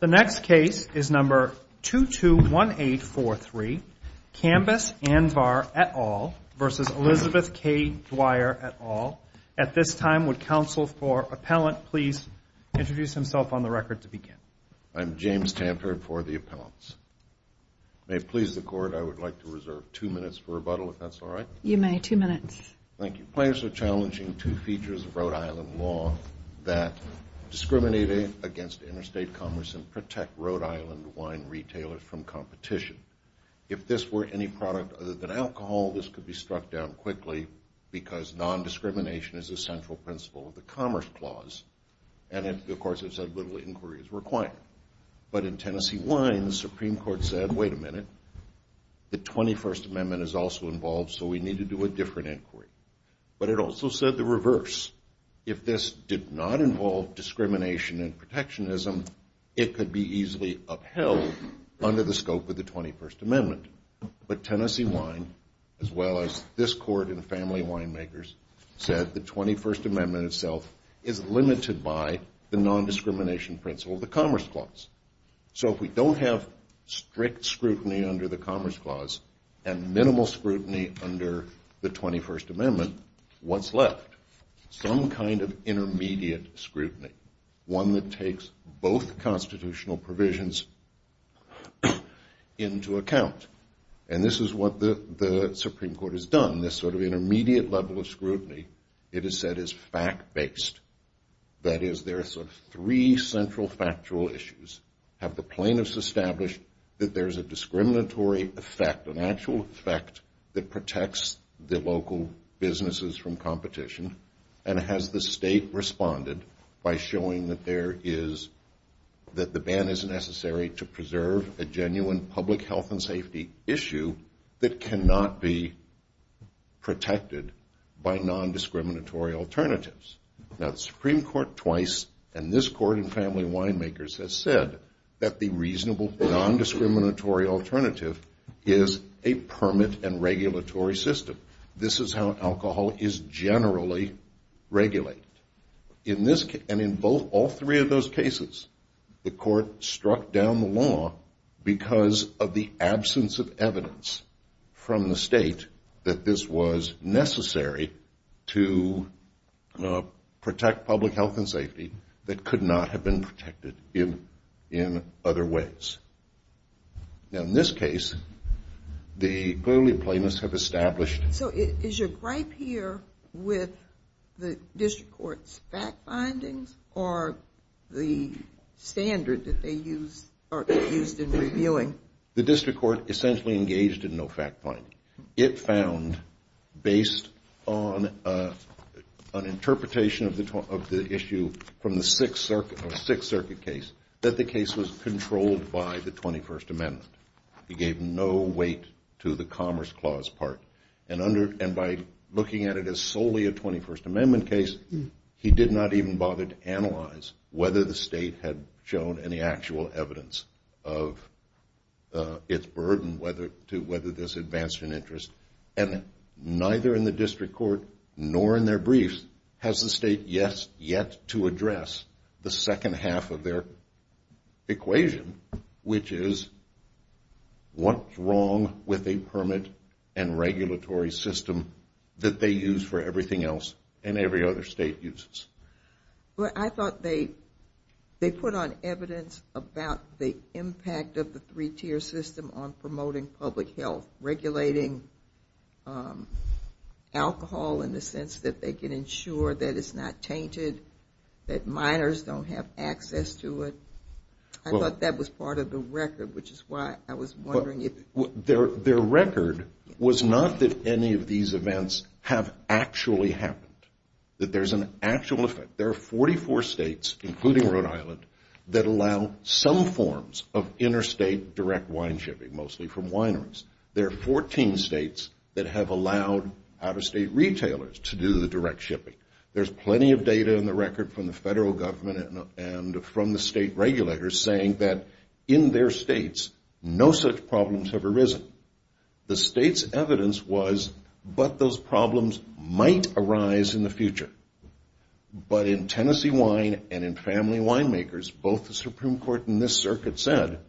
The next case is number 221843, Kambis Anvar et al. v. Elizabeth K. Dwyer et al. At this time, would counsel for appellant please introduce himself on the record to begin? I'm James Tamper for the appellants. May it please the Court, I would like to reserve two minutes for rebuttal, if that's all right. You may. Two minutes. Thank you. The plaintiffs are challenging two features of Rhode Island law that discriminate against interstate commerce and protect Rhode Island wine retailers from competition. If this were any product other than alcohol, this could be struck down quickly because nondiscrimination is a central principle of the Commerce Clause, and of course, as I've said, little inquiry is required. But in Tennessee wine, the Supreme Court said, wait a minute, the 21st Amendment is also involved, so we need to do a different inquiry. But it also said the reverse. If this did not involve discrimination and protectionism, it could be easily upheld under the scope of the 21st Amendment. But Tennessee wine, as well as this Court and family winemakers, said the 21st Amendment itself is limited by the nondiscrimination principle of the Commerce Clause. So if we don't have strict scrutiny under the Commerce Clause and minimal scrutiny under the 21st Amendment, what's left? Some kind of intermediate scrutiny, one that takes both constitutional provisions into account. And this is what the Supreme Court has done. This sort of intermediate level of scrutiny, it is said, is fact-based. That is, there are sort of three central factual issues. Have the plaintiffs established that there's a discriminatory effect, an actual effect that protects the local businesses from competition? And has the state responded by showing that there is, that the ban is necessary to preserve a genuine public health and safety issue that cannot be protected by nondiscriminatory alternatives? Now, the Supreme Court twice, and this Court and family winemakers, has said that the reasonable nondiscriminatory alternative is a permit and regulatory system. This is how alcohol is generally regulated. And in all three of those cases, the Court struck down the law because of the absence of evidence from the state that this was necessary to protect public health and safety that could not have been protected in other ways. Now, in this case, the clearly plaintiffs have established. So is your gripe here with the district court's fact findings or the standard that they used in reviewing? The district court essentially engaged in no fact finding. It found, based on an interpretation of the issue from the Sixth Circuit case, that the case was controlled by the 21st Amendment. It gave no weight to the Commerce Clause part. And by looking at it as solely a 21st Amendment case, he did not even bother to analyze whether the state had shown any actual evidence of its burden to whether this advanced an interest. And neither in the district court nor in their briefs has the state yet to address the second half of their equation, which is what's wrong with a permit and regulatory system that they use for everything else and every other state uses? Well, I thought they put on evidence about the impact of the three-tier system on promoting public health, regulating alcohol in the sense that they can ensure that it's not tainted, that minors don't have access to it. I thought that was part of the record, which is why I was wondering if... Their record was not that any of these events have actually happened, that there's an actual effect. There are 44 states, including Rhode Island, that allow some forms of interstate direct wine shipping, mostly from wineries. There are 14 states that have allowed out-of-state retailers to do the direct shipping. There's plenty of data in the record from the federal government and from the state regulators saying that in their states, no such problems have arisen. The state's evidence was, but those problems might arise in the future. But in Tennessee wine and in family winemakers, both the Supreme Court and this circuit said,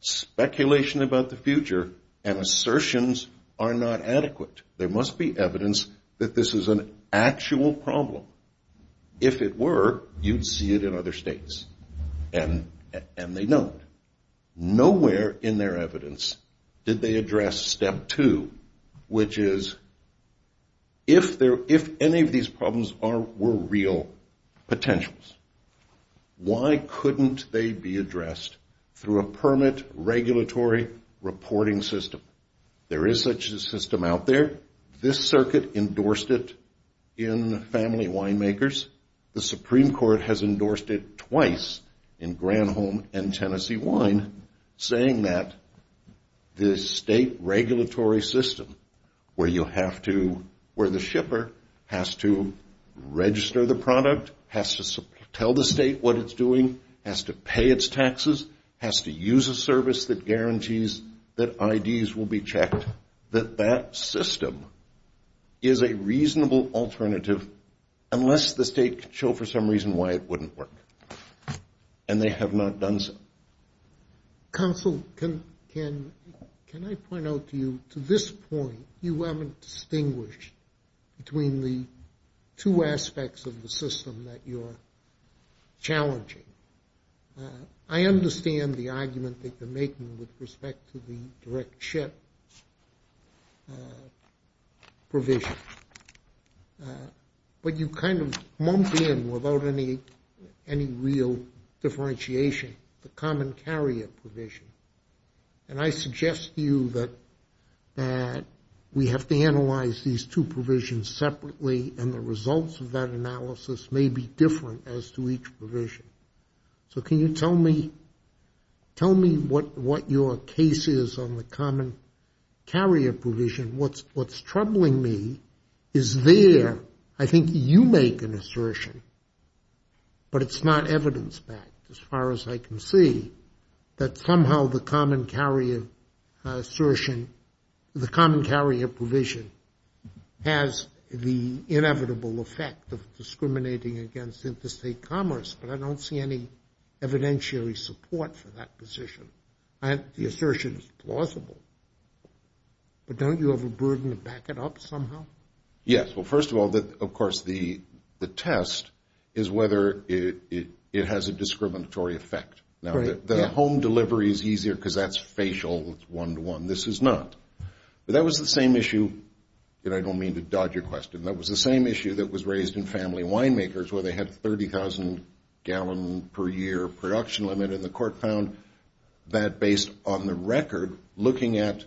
speculation about the future and assertions are not adequate. There must be evidence that this is an actual problem. If it were, you'd see it in other states, and they don't. Nowhere in their evidence did they address step two, which is if any of these problems were real potentials, why couldn't they be addressed through a permit regulatory reporting system? There is such a system out there. This circuit endorsed it in family winemakers. The Supreme Court has endorsed it twice in Granholm and Tennessee Wine, saying that the state regulatory system where you have to, where the shipper has to register the product, has to tell the state what it's doing, has to pay its taxes, has to use a service that guarantees that IDs will be checked, that that system is a reasonable alternative, unless the state could show for some reason why it wouldn't work. And they have not done so. Counsel, can I point out to you, to this point, you haven't distinguished between the two aspects of the system that you're challenging. I understand the argument that you're making with respect to the direct ship provision, but you kind of lump in, without any real differentiation, the common carrier provision. And I suggest to you that we have to analyze these two provisions separately, and the results of that analysis may be different as to each provision. So can you tell me what your case is on the common carrier provision? What's troubling me is there, I think you make an assertion, but it's not evidence-backed as far as I can see, that somehow the common carrier assertion, the common carrier provision, has the inevitable effect of discriminating against interstate commerce, but I don't see any evidentiary support for that position. The assertion is plausible, but don't you have a burden to back it up somehow? Yes, well, first of all, of course, the test is whether it has a discriminatory effect. Now, the home delivery is easier because that's facial, it's one-to-one. This is not. But that was the same issue, and I don't mean to dodge your question, that was the same issue that was raised in family winemakers where they had a 30,000-gallon-per-year production limit, and the court found that based on the record, looking at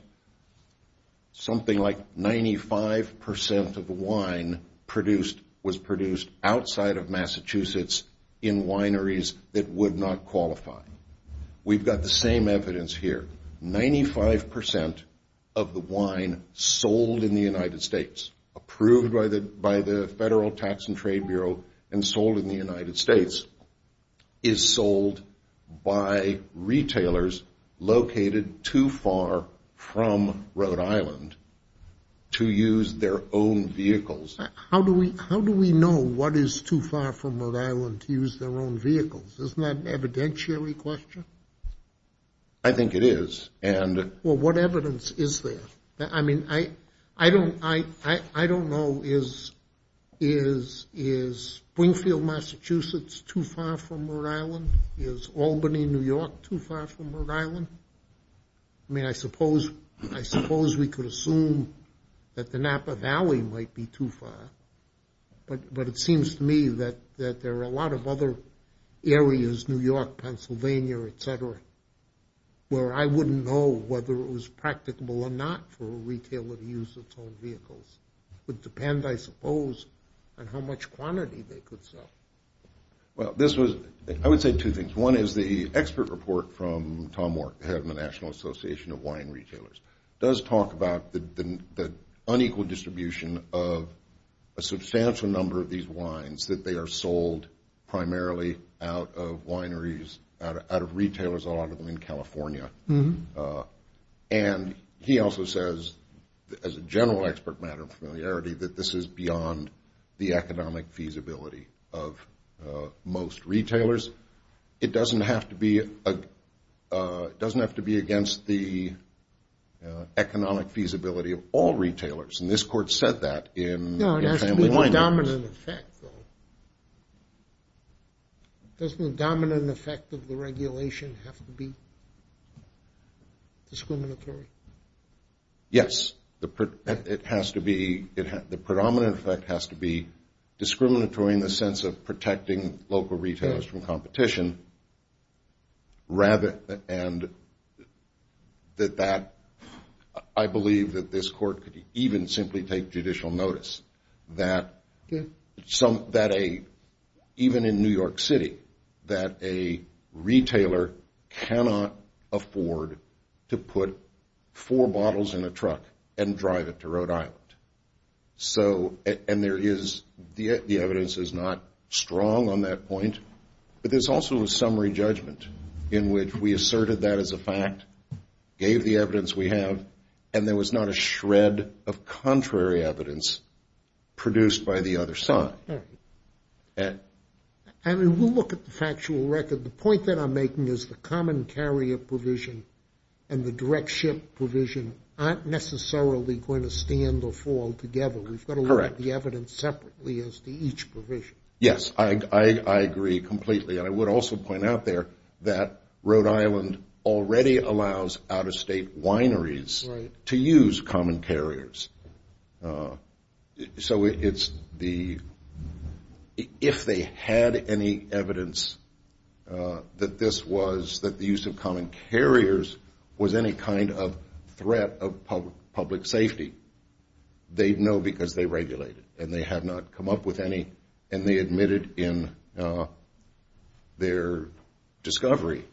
something like 95% of the wine was produced outside of Massachusetts in wineries that would not qualify. We've got the same evidence here. Ninety-five percent of the wine sold in the United States, approved by the Federal Tax and Trade Bureau and sold in the United States, is sold by retailers located too far from Rhode Island to use their own vehicles. How do we know what is too far from Rhode Island to use their own vehicles? Isn't that an evidentiary question? I think it is. Well, what evidence is there? I mean, I don't know. Is Springfield, Massachusetts too far from Rhode Island? Is Albany, New York too far from Rhode Island? I mean, I suppose we could assume that the Napa Valley might be too far, but it seems to me that there are a lot of other areas, New York, Pennsylvania, et cetera, where I wouldn't know whether it was practicable or not for a retailer to use its own vehicles. It would depend, I suppose, on how much quantity they could sell. Well, I would say two things. One is the expert report from Tom Wark, head of the National Association of Wine Retailers, does talk about the unequal distribution of a substantial number of these wines that they are sold primarily out of wineries, out of retailers, a lot of them in California. And he also says, as a general expert matter of familiarity, that this is beyond the economic feasibility of most retailers. It doesn't have to be against the economic feasibility of all retailers, and this court said that in the Family Wine Act. No, it has to be the dominant effect, though. Doesn't the dominant effect of the regulation have to be discriminatory? Yes, it has to be. The predominant effect has to be discriminatory in the sense of protecting local retailers from competition, and I believe that this court could even simply take judicial notice that even in New York City, that a retailer cannot afford to put four bottles in a truck and drive it to Rhode Island. So, and there is, the evidence is not strong on that point, but there's also a summary judgment in which we asserted that as a fact, gave the evidence we have, and there was not a shred of contrary evidence produced by the other side. I mean, we'll look at the factual record. The point that I'm making is the common carrier provision and the direct ship provision aren't necessarily going to stand or fall together. Correct. We've got to look at the evidence separately as to each provision. Yes, I agree completely, and I would also point out there that Rhode Island already allows out-of-state wineries to use common carriers. So it's the, if they had any evidence that this was, that the use of common carriers was any kind of threat of public safety, they'd know because they regulated and they had not come up with any, and they admitted in their discovery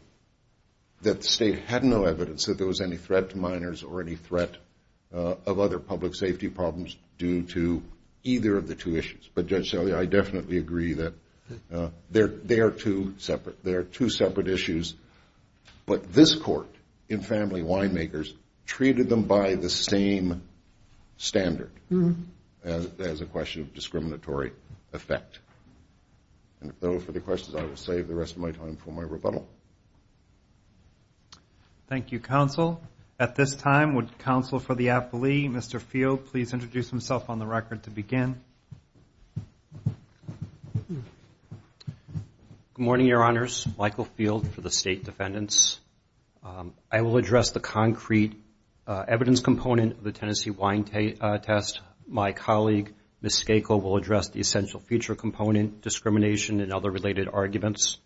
that the state had no evidence that there was any threat to minors or any threat of other public safety problems due to either of the two issues. But Judge Shelley, I definitely agree that they are two separate issues, but this court in family winemakers treated them by the same standard as a question of discriminatory effect. And so for the questions, I will save the rest of my time for my rebuttal. Thank you, counsel. At this time, would counsel for the appellee, Mr. Field, please introduce himself on the record to begin. Good morning, Your Honors. Michael Field for the State Defendants. I will address the concrete evidence component of the Tennessee wine test. My colleague, Ms. Skakel, will address the essential feature component, discrimination and other related arguments,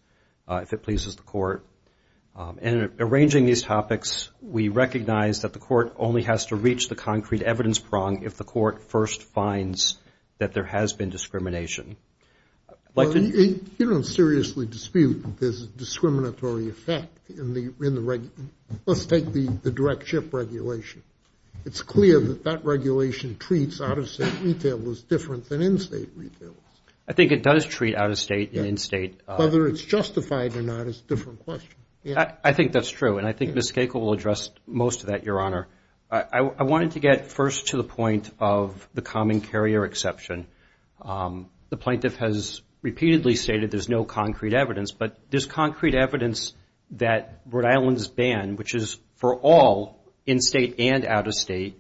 if it pleases the court. In arranging these topics, we recognize that the court only has to reach the concrete evidence prong if the court first finds that there has been discrimination. You don't seriously dispute that there's a discriminatory effect in the, let's take the direct ship regulation. It's clear that that regulation treats out-of-state retailers different than in-state retailers. I think it does treat out-of-state and in-state. Whether it's justified or not is a different question. I think that's true, and I think Ms. Skakel will address most of that, Your Honor. I wanted to get first to the point of the common carrier exception. The plaintiff has repeatedly stated there's no concrete evidence, but there's concrete evidence that Rhode Island's ban, which is for all in-state and out-of-state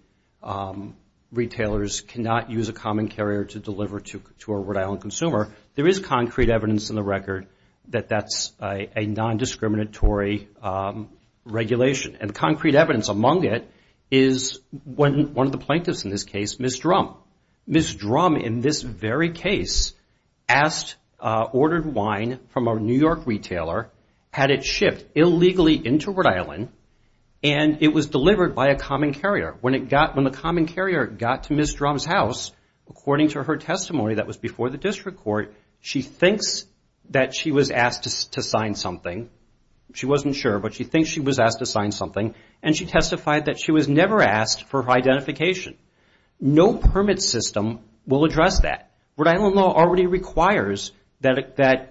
retailers cannot use a common carrier to deliver to a Rhode Island consumer. There is concrete evidence in the record that that's a nondiscriminatory regulation. And concrete evidence among it is when one of the plaintiffs in this case, Ms. Drum, in this very case, asked, ordered wine from a New York retailer, had it shipped illegally into Rhode Island, and it was delivered by a common carrier. When the common carrier got to Ms. Drum's house, according to her testimony that was before the district court, she thinks that she was asked to sign something. She wasn't sure, but she thinks she was asked to sign something, and she testified that she was never asked for identification. No permit system will address that. Rhode Island law already requires that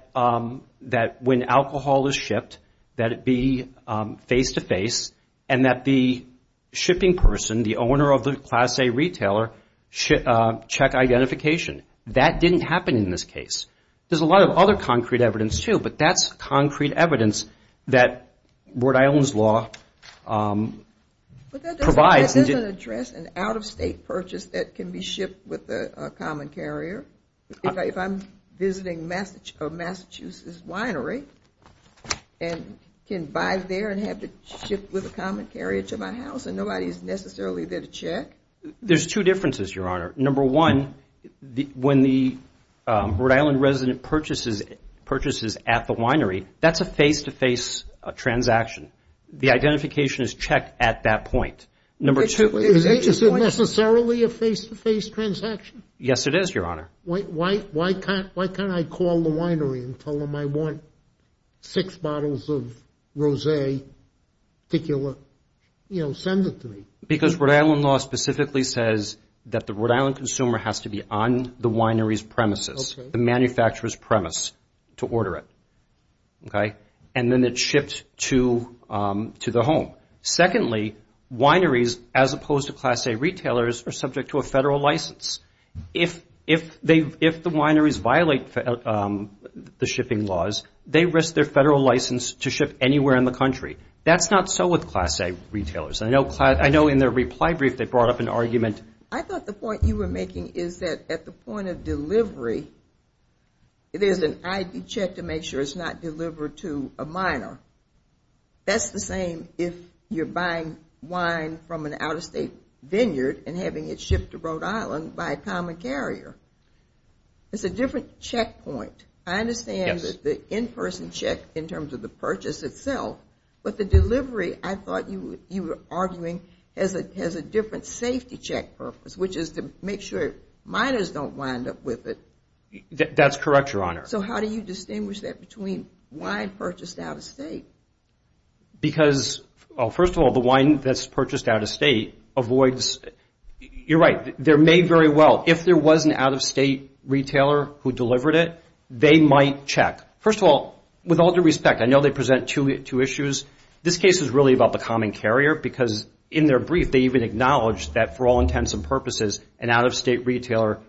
when alcohol is shipped, that it be face-to-face, and that the shipping person, the owner of the Class A retailer, check identification. That didn't happen in this case. There's a lot of other concrete evidence, too, but that's concrete evidence that Rhode Island's law provides. But that doesn't address an out-of-state purchase that can be shipped with a common carrier. If I'm visiting Massachusetts winery, and can buy there and have it shipped with a common carrier to my house, there's two differences, Your Honor. Number one, when the Rhode Island resident purchases at the winery, that's a face-to-face transaction. The identification is checked at that point. Is it necessarily a face-to-face transaction? Yes, it is, Your Honor. Why can't I call the winery and tell them I want six bottles of rose, particular, you know, send it to me? Because Rhode Island law specifically says that the Rhode Island consumer has to be on the winery's premises, the manufacturer's premise, to order it, okay? And then it's shipped to the home. Secondly, wineries, as opposed to Class A retailers, are subject to a federal license. If the wineries violate the shipping laws, they risk their federal license to ship anywhere in the country. That's not so with Class A retailers. I know in their reply brief they brought up an argument. I thought the point you were making is that at the point of delivery, there's an ID check to make sure it's not delivered to a minor. You're buying wine from an out-of-state vineyard and having it shipped to Rhode Island by a common carrier. It's a different checkpoint. I understand that the in-person check in terms of the purchase itself, but the delivery, I thought you were arguing, has a different safety check purpose, which is to make sure minors don't wind up with it. That's correct, Your Honor. So how do you distinguish that between wine purchased out-of-state? Because, first of all, the wine that's purchased out-of-state avoids... You're right, they're made very well. If there was an out-of-state retailer who delivered it, they might check. First of all, with all due respect, I know they present two issues. This case is really about the common carrier, because in their brief, they even acknowledge that for all intents and purposes, an out-of-state retailer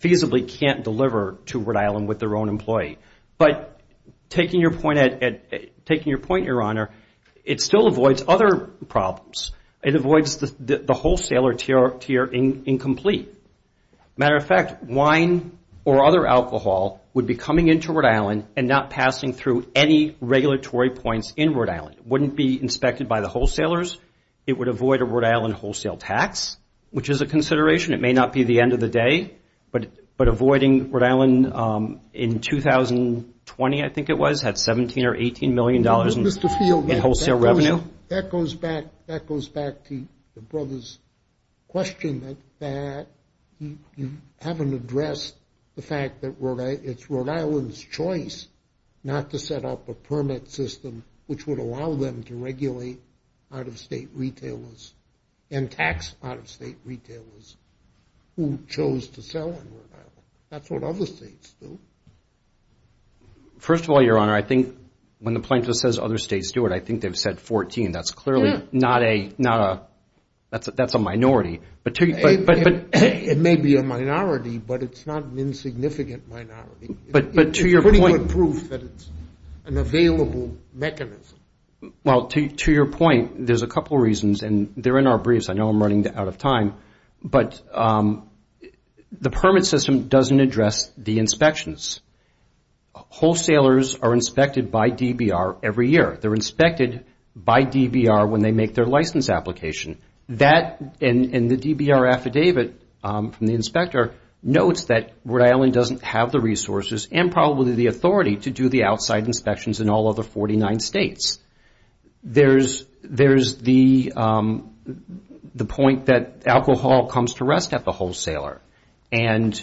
feasibly can't deliver to Rhode Island with their own employee. But taking your point, Your Honor, it still avoids other problems. It avoids the wholesaler tier incomplete. Matter of fact, wine or other alcohol would be coming into Rhode Island and not passing through any regulatory points in Rhode Island. It wouldn't be inspected by the wholesalers. It would avoid a Rhode Island wholesale tax, which is a consideration. It may not be the end of the day, but avoiding Rhode Island in 2020, I think it was, had $17 or $18 million in wholesale revenue. That goes back to the brother's question that you haven't addressed the fact that it's Rhode Island's choice not to set up a permit system, which would allow them to regulate out-of-state retailers and tax out-of-state retailers who chose to sell in Rhode Island. That's what other states do. First of all, Your Honor, I think when the plaintiff says other states do it, I think they've said 14. That's clearly not a, that's a minority. It may be a minority, but it's not an insignificant minority. It's pretty good proof that it's an available mechanism. Well, to your point, there's a couple of reasons, and they're in our briefs. I know I'm running out of time, but the permit system doesn't address the inspections. Wholesalers are inspected by DBR every year. They're inspected by DBR when they make their license application. That, and the DBR affidavit from the inspector notes that Rhode Island doesn't have the resources and probably the authority to do the outside inspections in all other 49 states. There's the point that alcohol comes to rest at the wholesaler. And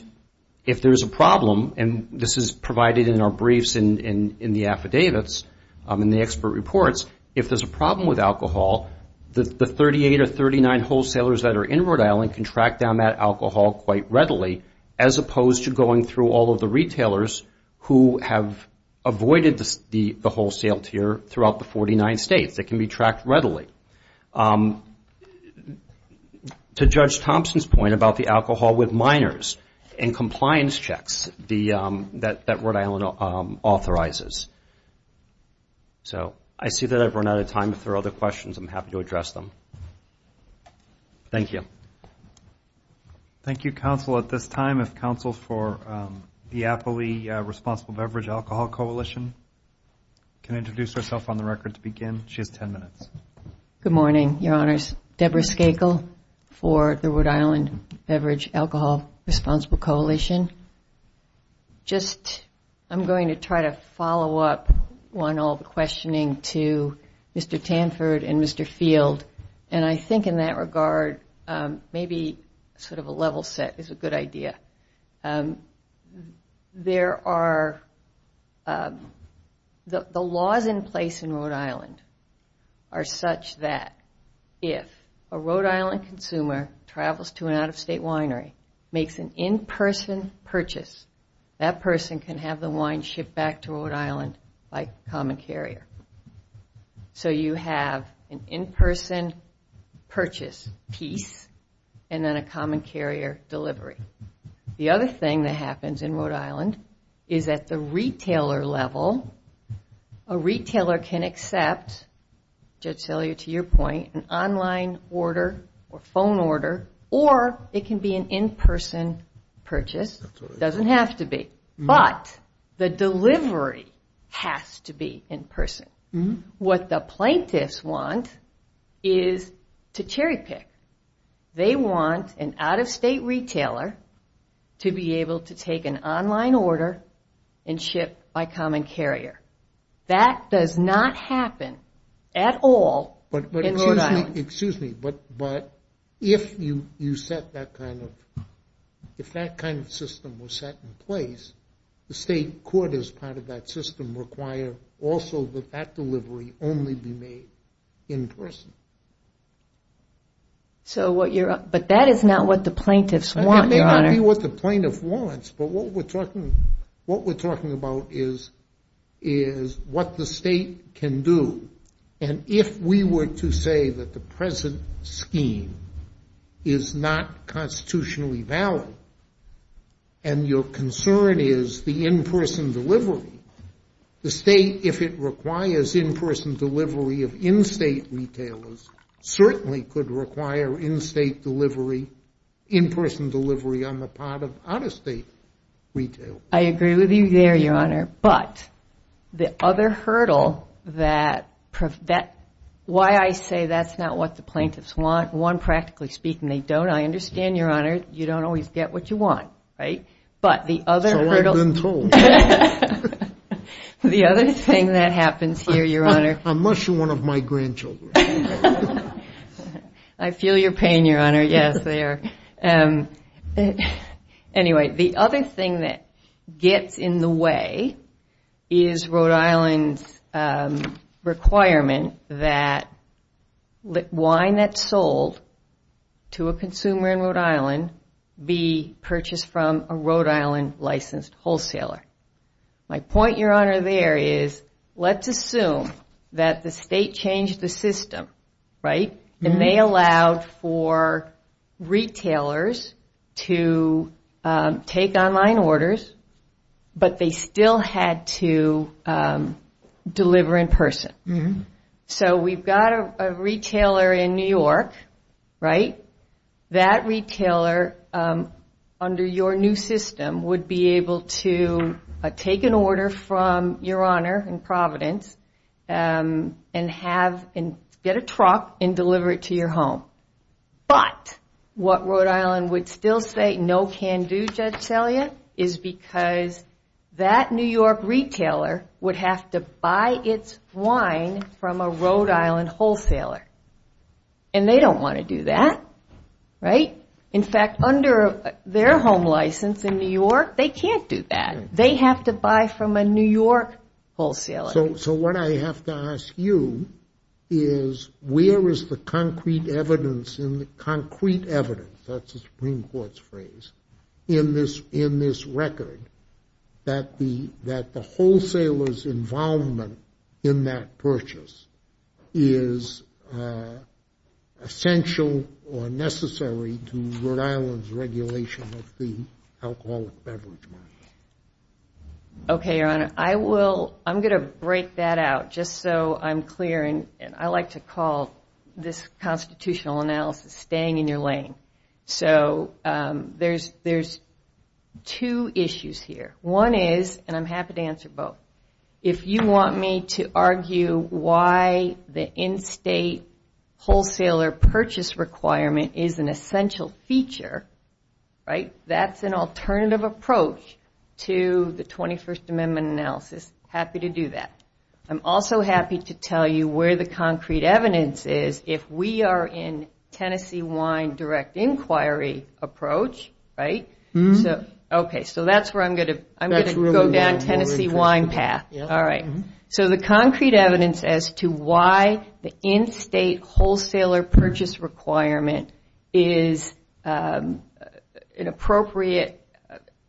if there's a problem, and this is provided in our briefs in the affidavits, in the expert reports, if there's a problem with alcohol, the 38 or 39 wholesalers that are in Rhode Island can track down that alcohol quite readily, as opposed to going through all of the retailers who have avoided the wholesale tier throughout the 49 states. It can be tracked readily. To Judge Thompson's point about the alcohol with minors and compliance checks that Rhode Island authorizes. So, I see that I've run out of time. If there are other questions, I'm happy to address them. Thank you. Thank you, counsel. At this time, if counsel for the Appley Responsible Beverage Alcohol Coalition can introduce herself on the record to begin. She has ten minutes. Good morning, your honors. Deborah Skakel for the Rhode Island Beverage Alcohol Responsible Coalition. Just, I'm going to try to follow up on all the questioning to Mr. Tanford and Mr. Field. And I think in that regard, maybe sort of a level set is a good idea. There are, the laws in place in Rhode Island are such that if a Rhode Island consumer travels to an out-of-state winery, makes an in-person purchase, that person can have the wine shipped back to Rhode Island by common carrier. So, you have an in-person purchase piece, and then a common carrier delivery. The other thing that happens in Rhode Island is that the retailer level, a retailer can accept, Judge Sellier, to your point, an online order or phone order, or it can be an in-person purchase. Doesn't have to be, but the delivery has to be in person. What the plaintiffs want is to cherry pick. They want an out-of-state retailer to be able to take an online order and ship by common carrier. That does not happen at all in Rhode Island. Excuse me, but if you set that kind of, if that kind of system was set in place, the state court as part of that system require also that that delivery only be made in person. But that is not what the plaintiffs want, Your Honor. It may be what the plaintiff wants, but what we're talking about is what the state can do. And if we were to say that the present scheme is not constitutionally valid, and your concern is the in-person delivery, the state, if it requires in-person delivery of in-state retailers, certainly could require in-state delivery, in-person delivery on the part of out-of-state retailers. I agree with you there, Your Honor, but the other hurdle that, why I say that's not what the plaintiffs want, one, practically speaking, they don't. I understand, Your Honor, you don't always get what you want, right? So I've been told. The other thing that happens here, Your Honor. I'm mushing one of my grandchildren. I feel your pain, Your Honor, yes, I do. Anyway, the other thing that gets in the way is Rhode Island's requirement that wine that's sold to a consumer in Rhode Island be purchased from a Rhode Island licensed wholesaler. My point, Your Honor, there is let's assume that the state changed the system, right? And they allowed for retailers to take online orders, but they still had to deliver in person. So we've got a retailer in New York, right? That retailer, under your new system, would be able to take an order from Your Honor in Providence and get a truck and deliver it to your home. But what Rhode Island would still say no can do, Judge Selya, is because that New York retailer would have to buy its wine from a Rhode Island wholesaler. And they don't want to do that, right? In fact, under their home license in New York, they can't do that. They have to buy from a New York wholesaler. So what I have to ask you is where is the concrete evidence in the concrete evidence, that's the Supreme Court's phrase, in this record that the wholesaler's involvement in that purchase is essential or necessary to Rhode Island's regulation of the alcoholic beverage market? Okay, Your Honor, I'm going to break that out just so I'm clear. And I like to call this constitutional analysis staying in your lane. So there's two issues here. One is, and I'm happy to answer both. If you want me to argue why the in-state wholesaler purchase requirement is an essential feature, right, that's an alternative approach to the 21st Amendment analysis. Happy to do that. I'm also happy to tell you where the concrete evidence is if we are in Tennessee wine direct inquiry approach, right? Okay, so that's where I'm going to go down Tennessee wine path. So the concrete evidence as to why the in-state wholesaler purchase requirement is an appropriate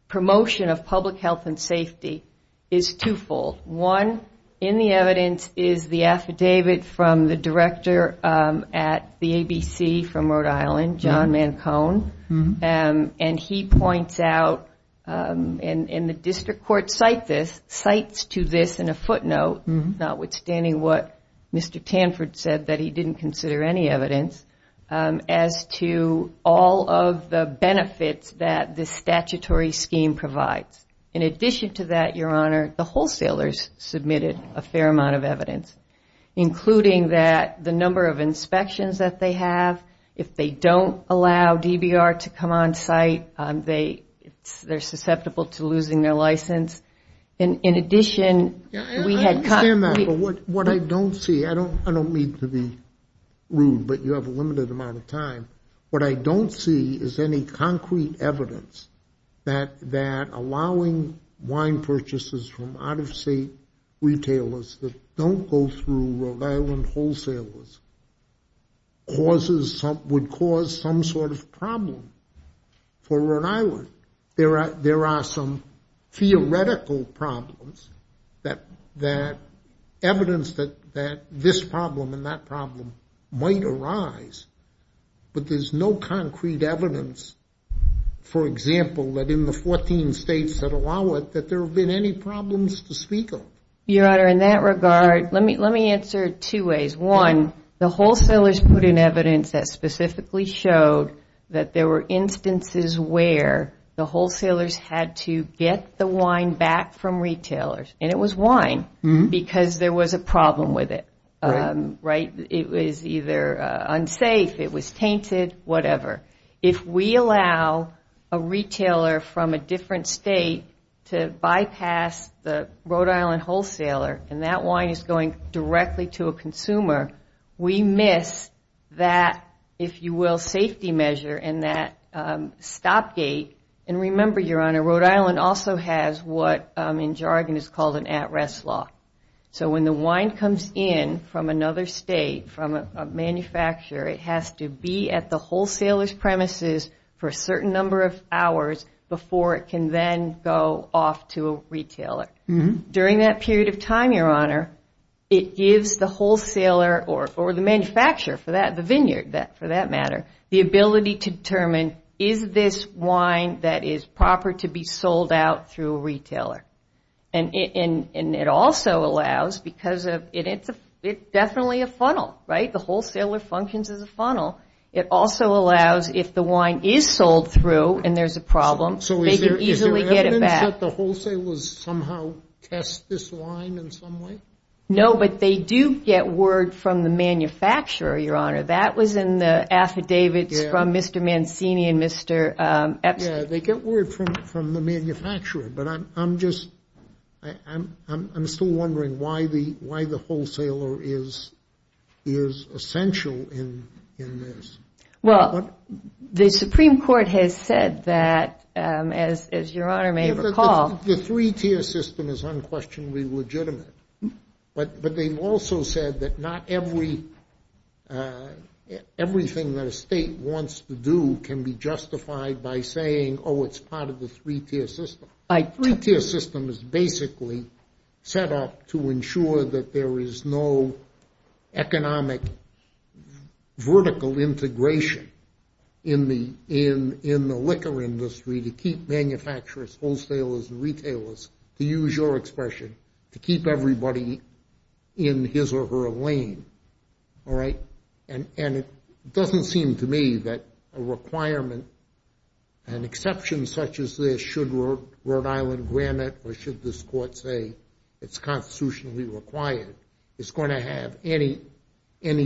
promotion of public health and safety is twofold. One in the evidence is the affidavit from the director at the ABC from Rhode Island, John Mancone, and he points out, and the district court cites this, cites to this in a footnote, notwithstanding what Mr. Tanford said that he didn't consider any evidence, as to all of the benefits that this statutory scheme provides. In addition to that, Your Honor, the wholesalers submitted a fair amount of evidence, including that the number of inspections that they have, if they don't allow DBR to come on site, they're susceptible to losing their license. In addition, we had... I understand that, but what I don't see, I don't mean to be rude, but you have a limited amount of time, what I don't see is any concrete evidence that allowing wine purchases from out-of-state retailers that don't go through Rhode Island wholesalers would cause some sort of problem for Rhode Island. There are some theoretical problems that evidence that this problem and that problem might arise, but there's no concrete evidence, for example, that in the 14 states that allow it, that there have been any problems to speak of. Your Honor, in that regard, let me answer it two ways. One, the wholesalers put in evidence that specifically showed that there were instances where the wholesalers had to get the wine back from retailers, and it was wine, because there was a problem with it. It was either unsafe, it was tainted, whatever. If we allow a retailer from a different state to bypass the Rhode Island wholesaler, and that wine is going directly to a consumer, we miss that, if you will, safety measure and that stop gate. And remember, Your Honor, Rhode Island also has what in jargon is called an at-rest law. So when the wine comes in from another state, from a manufacturer, it has to be at the wholesaler's premises for a certain number of hours before it can then go off to a retailer. During that period of time, Your Honor, it gives the wholesaler or the manufacturer, the producer for that, the vineyard for that matter, the ability to determine is this wine that is proper to be sold out through a retailer. And it also allows, because it's definitely a funnel, right? The wholesaler functions as a funnel. It also allows if the wine is sold through and there's a problem, they can easily get it back. Is it that the wholesalers somehow test this wine in some way? No, but they do get word from the manufacturer, Your Honor. That was in the affidavits from Mr. Mancini and Mr. Epstein. Yeah, they get word from the manufacturer. But I'm still wondering why the wholesaler is essential in this. Well, the Supreme Court has said that, as Your Honor may recall. The three-tier system is unquestionably legitimate. But they've also said that not everything that a state wants to do can be justified by saying, oh, it's part of the three-tier system. A three-tier system is basically set up to ensure that there is no economic vertical integration in the liquor industry to keep manufacturers, wholesalers, and retailers, to use your expression, to keep everybody in his or her lane, all right? And it doesn't seem to me that a requirement, an exception such as this, should Rhode Island grant it or should this court say it's constitutionally required, is going to have any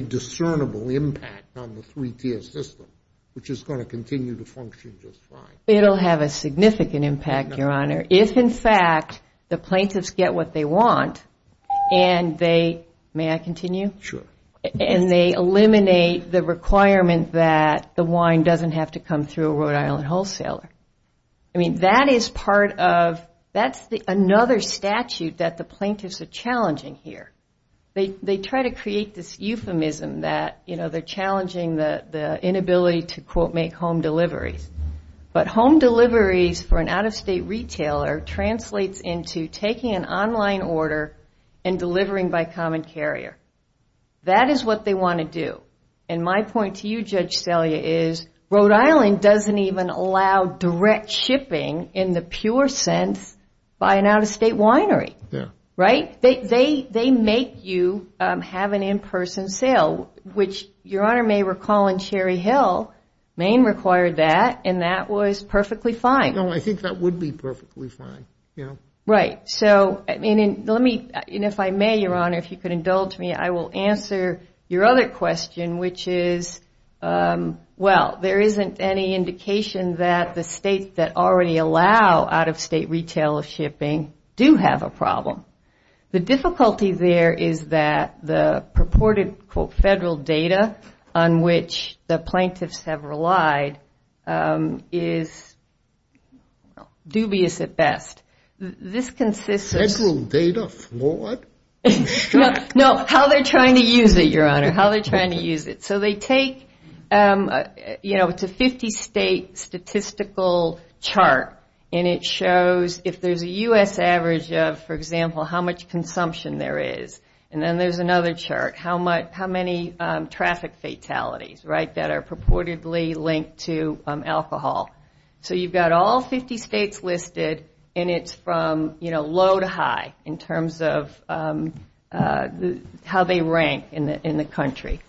discernible impact on the three-tier system, which is going to continue to function just fine. It'll have a significant impact, Your Honor. If, in fact, the plaintiffs get what they want and they, may I continue? Sure. And they eliminate the requirement that the wine doesn't have to come through a Rhode Island wholesaler. I mean, that is part of, that's another statute that the plaintiffs are challenging here. They try to create this euphemism that, you know, they're challenging the inability to, quote, make home deliveries. But home deliveries for an out-of-state retailer translates into taking an online order and delivering by common carrier. That is what they want to do. And my point to you, Judge Selye, is Rhode Island doesn't even allow direct shipping, in the pure sense, by an out-of-state winery, right? They make you have an in-person sale, which Your Honor may recall in Cherry Hill, Maine required that, and that was perfectly fine. No, I think that would be perfectly fine, you know? Right. So, and if I may, Your Honor, if you could indulge me, I will answer your other question, which is, well, there isn't any indication that the states that already allow out-of-state retailer shipping do have a problem. The difficulty there is that the purported, quote, federal data on which the plaintiffs have relied is dubious at best. This consists of- Federal data? What? No, how they're trying to use it, Your Honor, how they're trying to use it. So they take, you know, it's a 50-state statistical chart, and it shows if there's a U.S. average of, for example, how much consumption there is, and then there's another chart, how many traffic fatalities, right, that are purportedly linked to alcohol. So you've got all 50 states listed, and it's from, you know, low to high, in terms of how they rank in the country.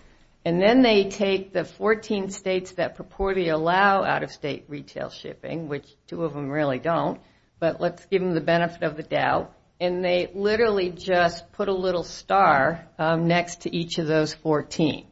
And then they take the 14 states that purportedly allow out-of-state retail shipping, which two of them really don't, but let's give them the benefit of the doubt, and they literally just put a little star next to each of those 14.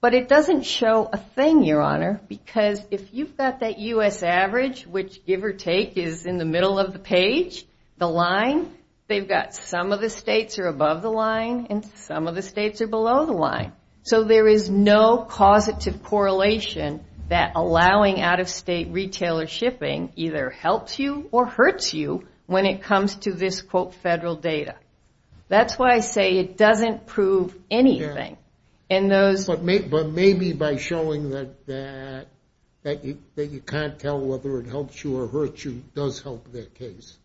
But it doesn't show a thing, Your Honor, because if you've got that U.S. average, which give or take is in the middle of the page, the line, they've got some of the states are above the line and some of the states are below the line. So there is no causative correlation that allowing out-of-state retail or shipping either helps you or hurts you when it comes to this, quote, federal data. That's why I say it doesn't prove anything. But maybe by showing that you can't tell whether it helps you or hurts you does help their case.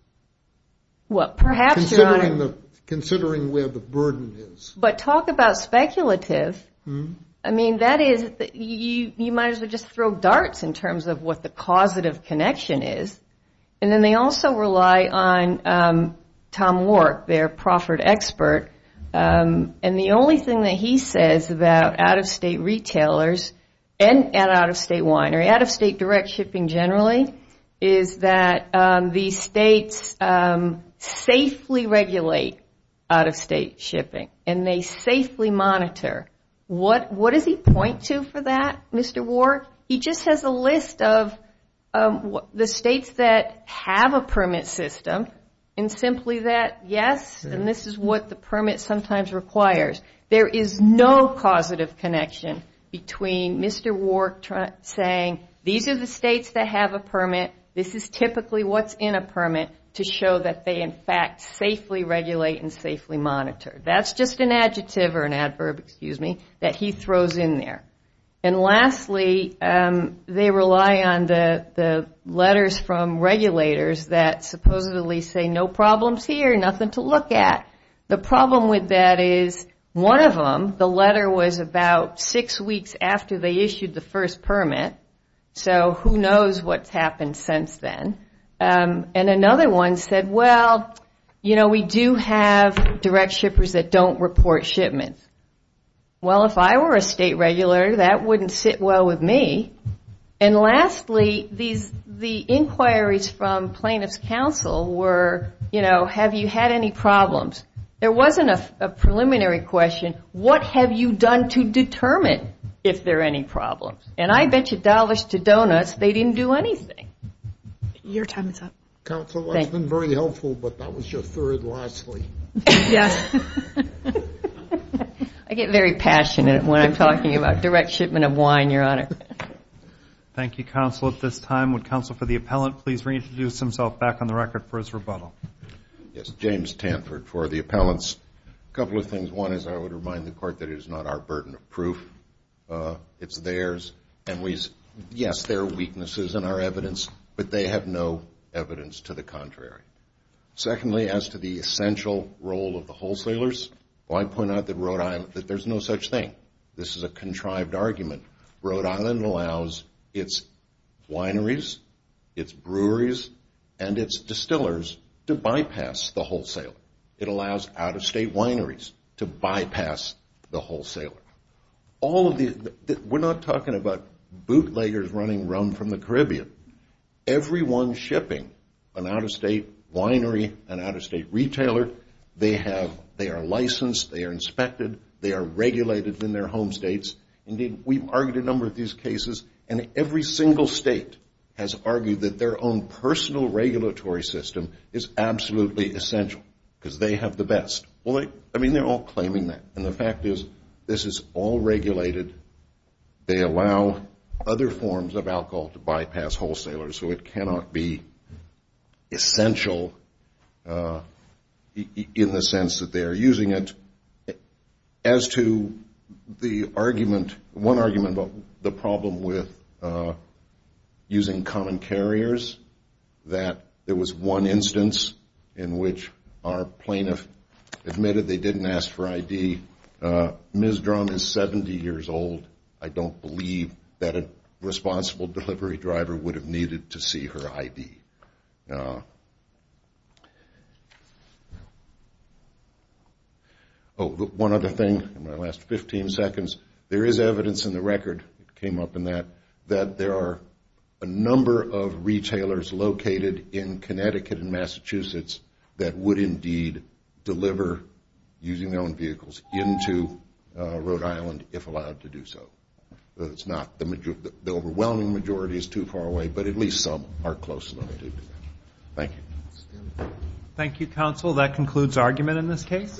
Well, perhaps, Your Honor. Considering where the burden is. But talk about speculative. I mean, that is, you might as well just throw darts in terms of what the causative connection is. And then they also rely on Tom Warrick, their proffered expert. And the only thing that he says about out-of-state retailers and out-of-state winery, out-of-state direct shipping generally, is that the states safely regulate out-of-state shipping, and they safely monitor. What does he point to for that, Mr. Warrick? He just has a list of the states that have a permit system, and simply that, yes, and this is what the permit sometimes requires. There is no causative connection between Mr. Warrick saying, these are the states that have a permit, this is typically what's in a permit, to show that they, in fact, safely regulate and safely monitor. That's just an adjective or an adverb, excuse me, that he throws in there. And lastly, they rely on the letters from regulators that supposedly say, no problems here, nothing to look at. The problem with that is, one of them, the letter was about six weeks after they issued the first permit, so who knows what's happened since then. And another one said, well, you know, we do have direct shippers that don't report shipments. Well, if I were a state regulator, that wouldn't sit well with me. And lastly, the inquiries from plaintiff's counsel were, you know, have you had any problems? There wasn't a preliminary question, what have you done to determine if there are any problems? And I bet you dollars to donuts they didn't do anything. Your time is up. Counsel, that's been very helpful, but that was your third lastly. Yes. I get very passionate when I'm talking about direct shipment of wine, Your Honor. Thank you, Counsel. At this time, would Counsel for the Appellant please reintroduce himself back on the record for his rebuttal? Yes, James Tanford for the Appellant. A couple of things. One is I would remind the Court that it is not our burden of proof, it's theirs. And, yes, there are weaknesses in our evidence, but they have no evidence to the contrary. Secondly, as to the essential role of the wholesalers, I point out that there's no such thing. This is a contrived argument. Rhode Island allows its wineries, its breweries, and its distillers to bypass the wholesaler. It allows out-of-state wineries to bypass the wholesaler. We're not talking about bootleggers running rum from the Caribbean. Everyone shipping an out-of-state winery, an out-of-state retailer, they are licensed, they are inspected, they are regulated in their home states. Indeed, we've argued a number of these cases, and every single state has argued that their own personal regulatory system is absolutely essential because they have the best. I mean, they're all claiming that, and the fact is this is all regulated. They allow other forms of alcohol to bypass wholesalers, so it cannot be essential in the sense that they are using it. As to the argument, one argument about the problem with using common carriers, that there was one instance in which our plaintiff admitted they didn't ask for ID. Ms. Drum is 70 years old. I don't believe that a responsible delivery driver would have needed to see her ID. Oh, one other thing in my last 15 seconds. There is evidence in the record that came up in that, that there are a number of retailers located in Connecticut and Massachusetts that would indeed deliver using their own vehicles into Rhode Island if allowed to do so. The overwhelming majority is too far away, but at least some are close enough to do that. Thank you. Thank you, counsel. That concludes argument in this case.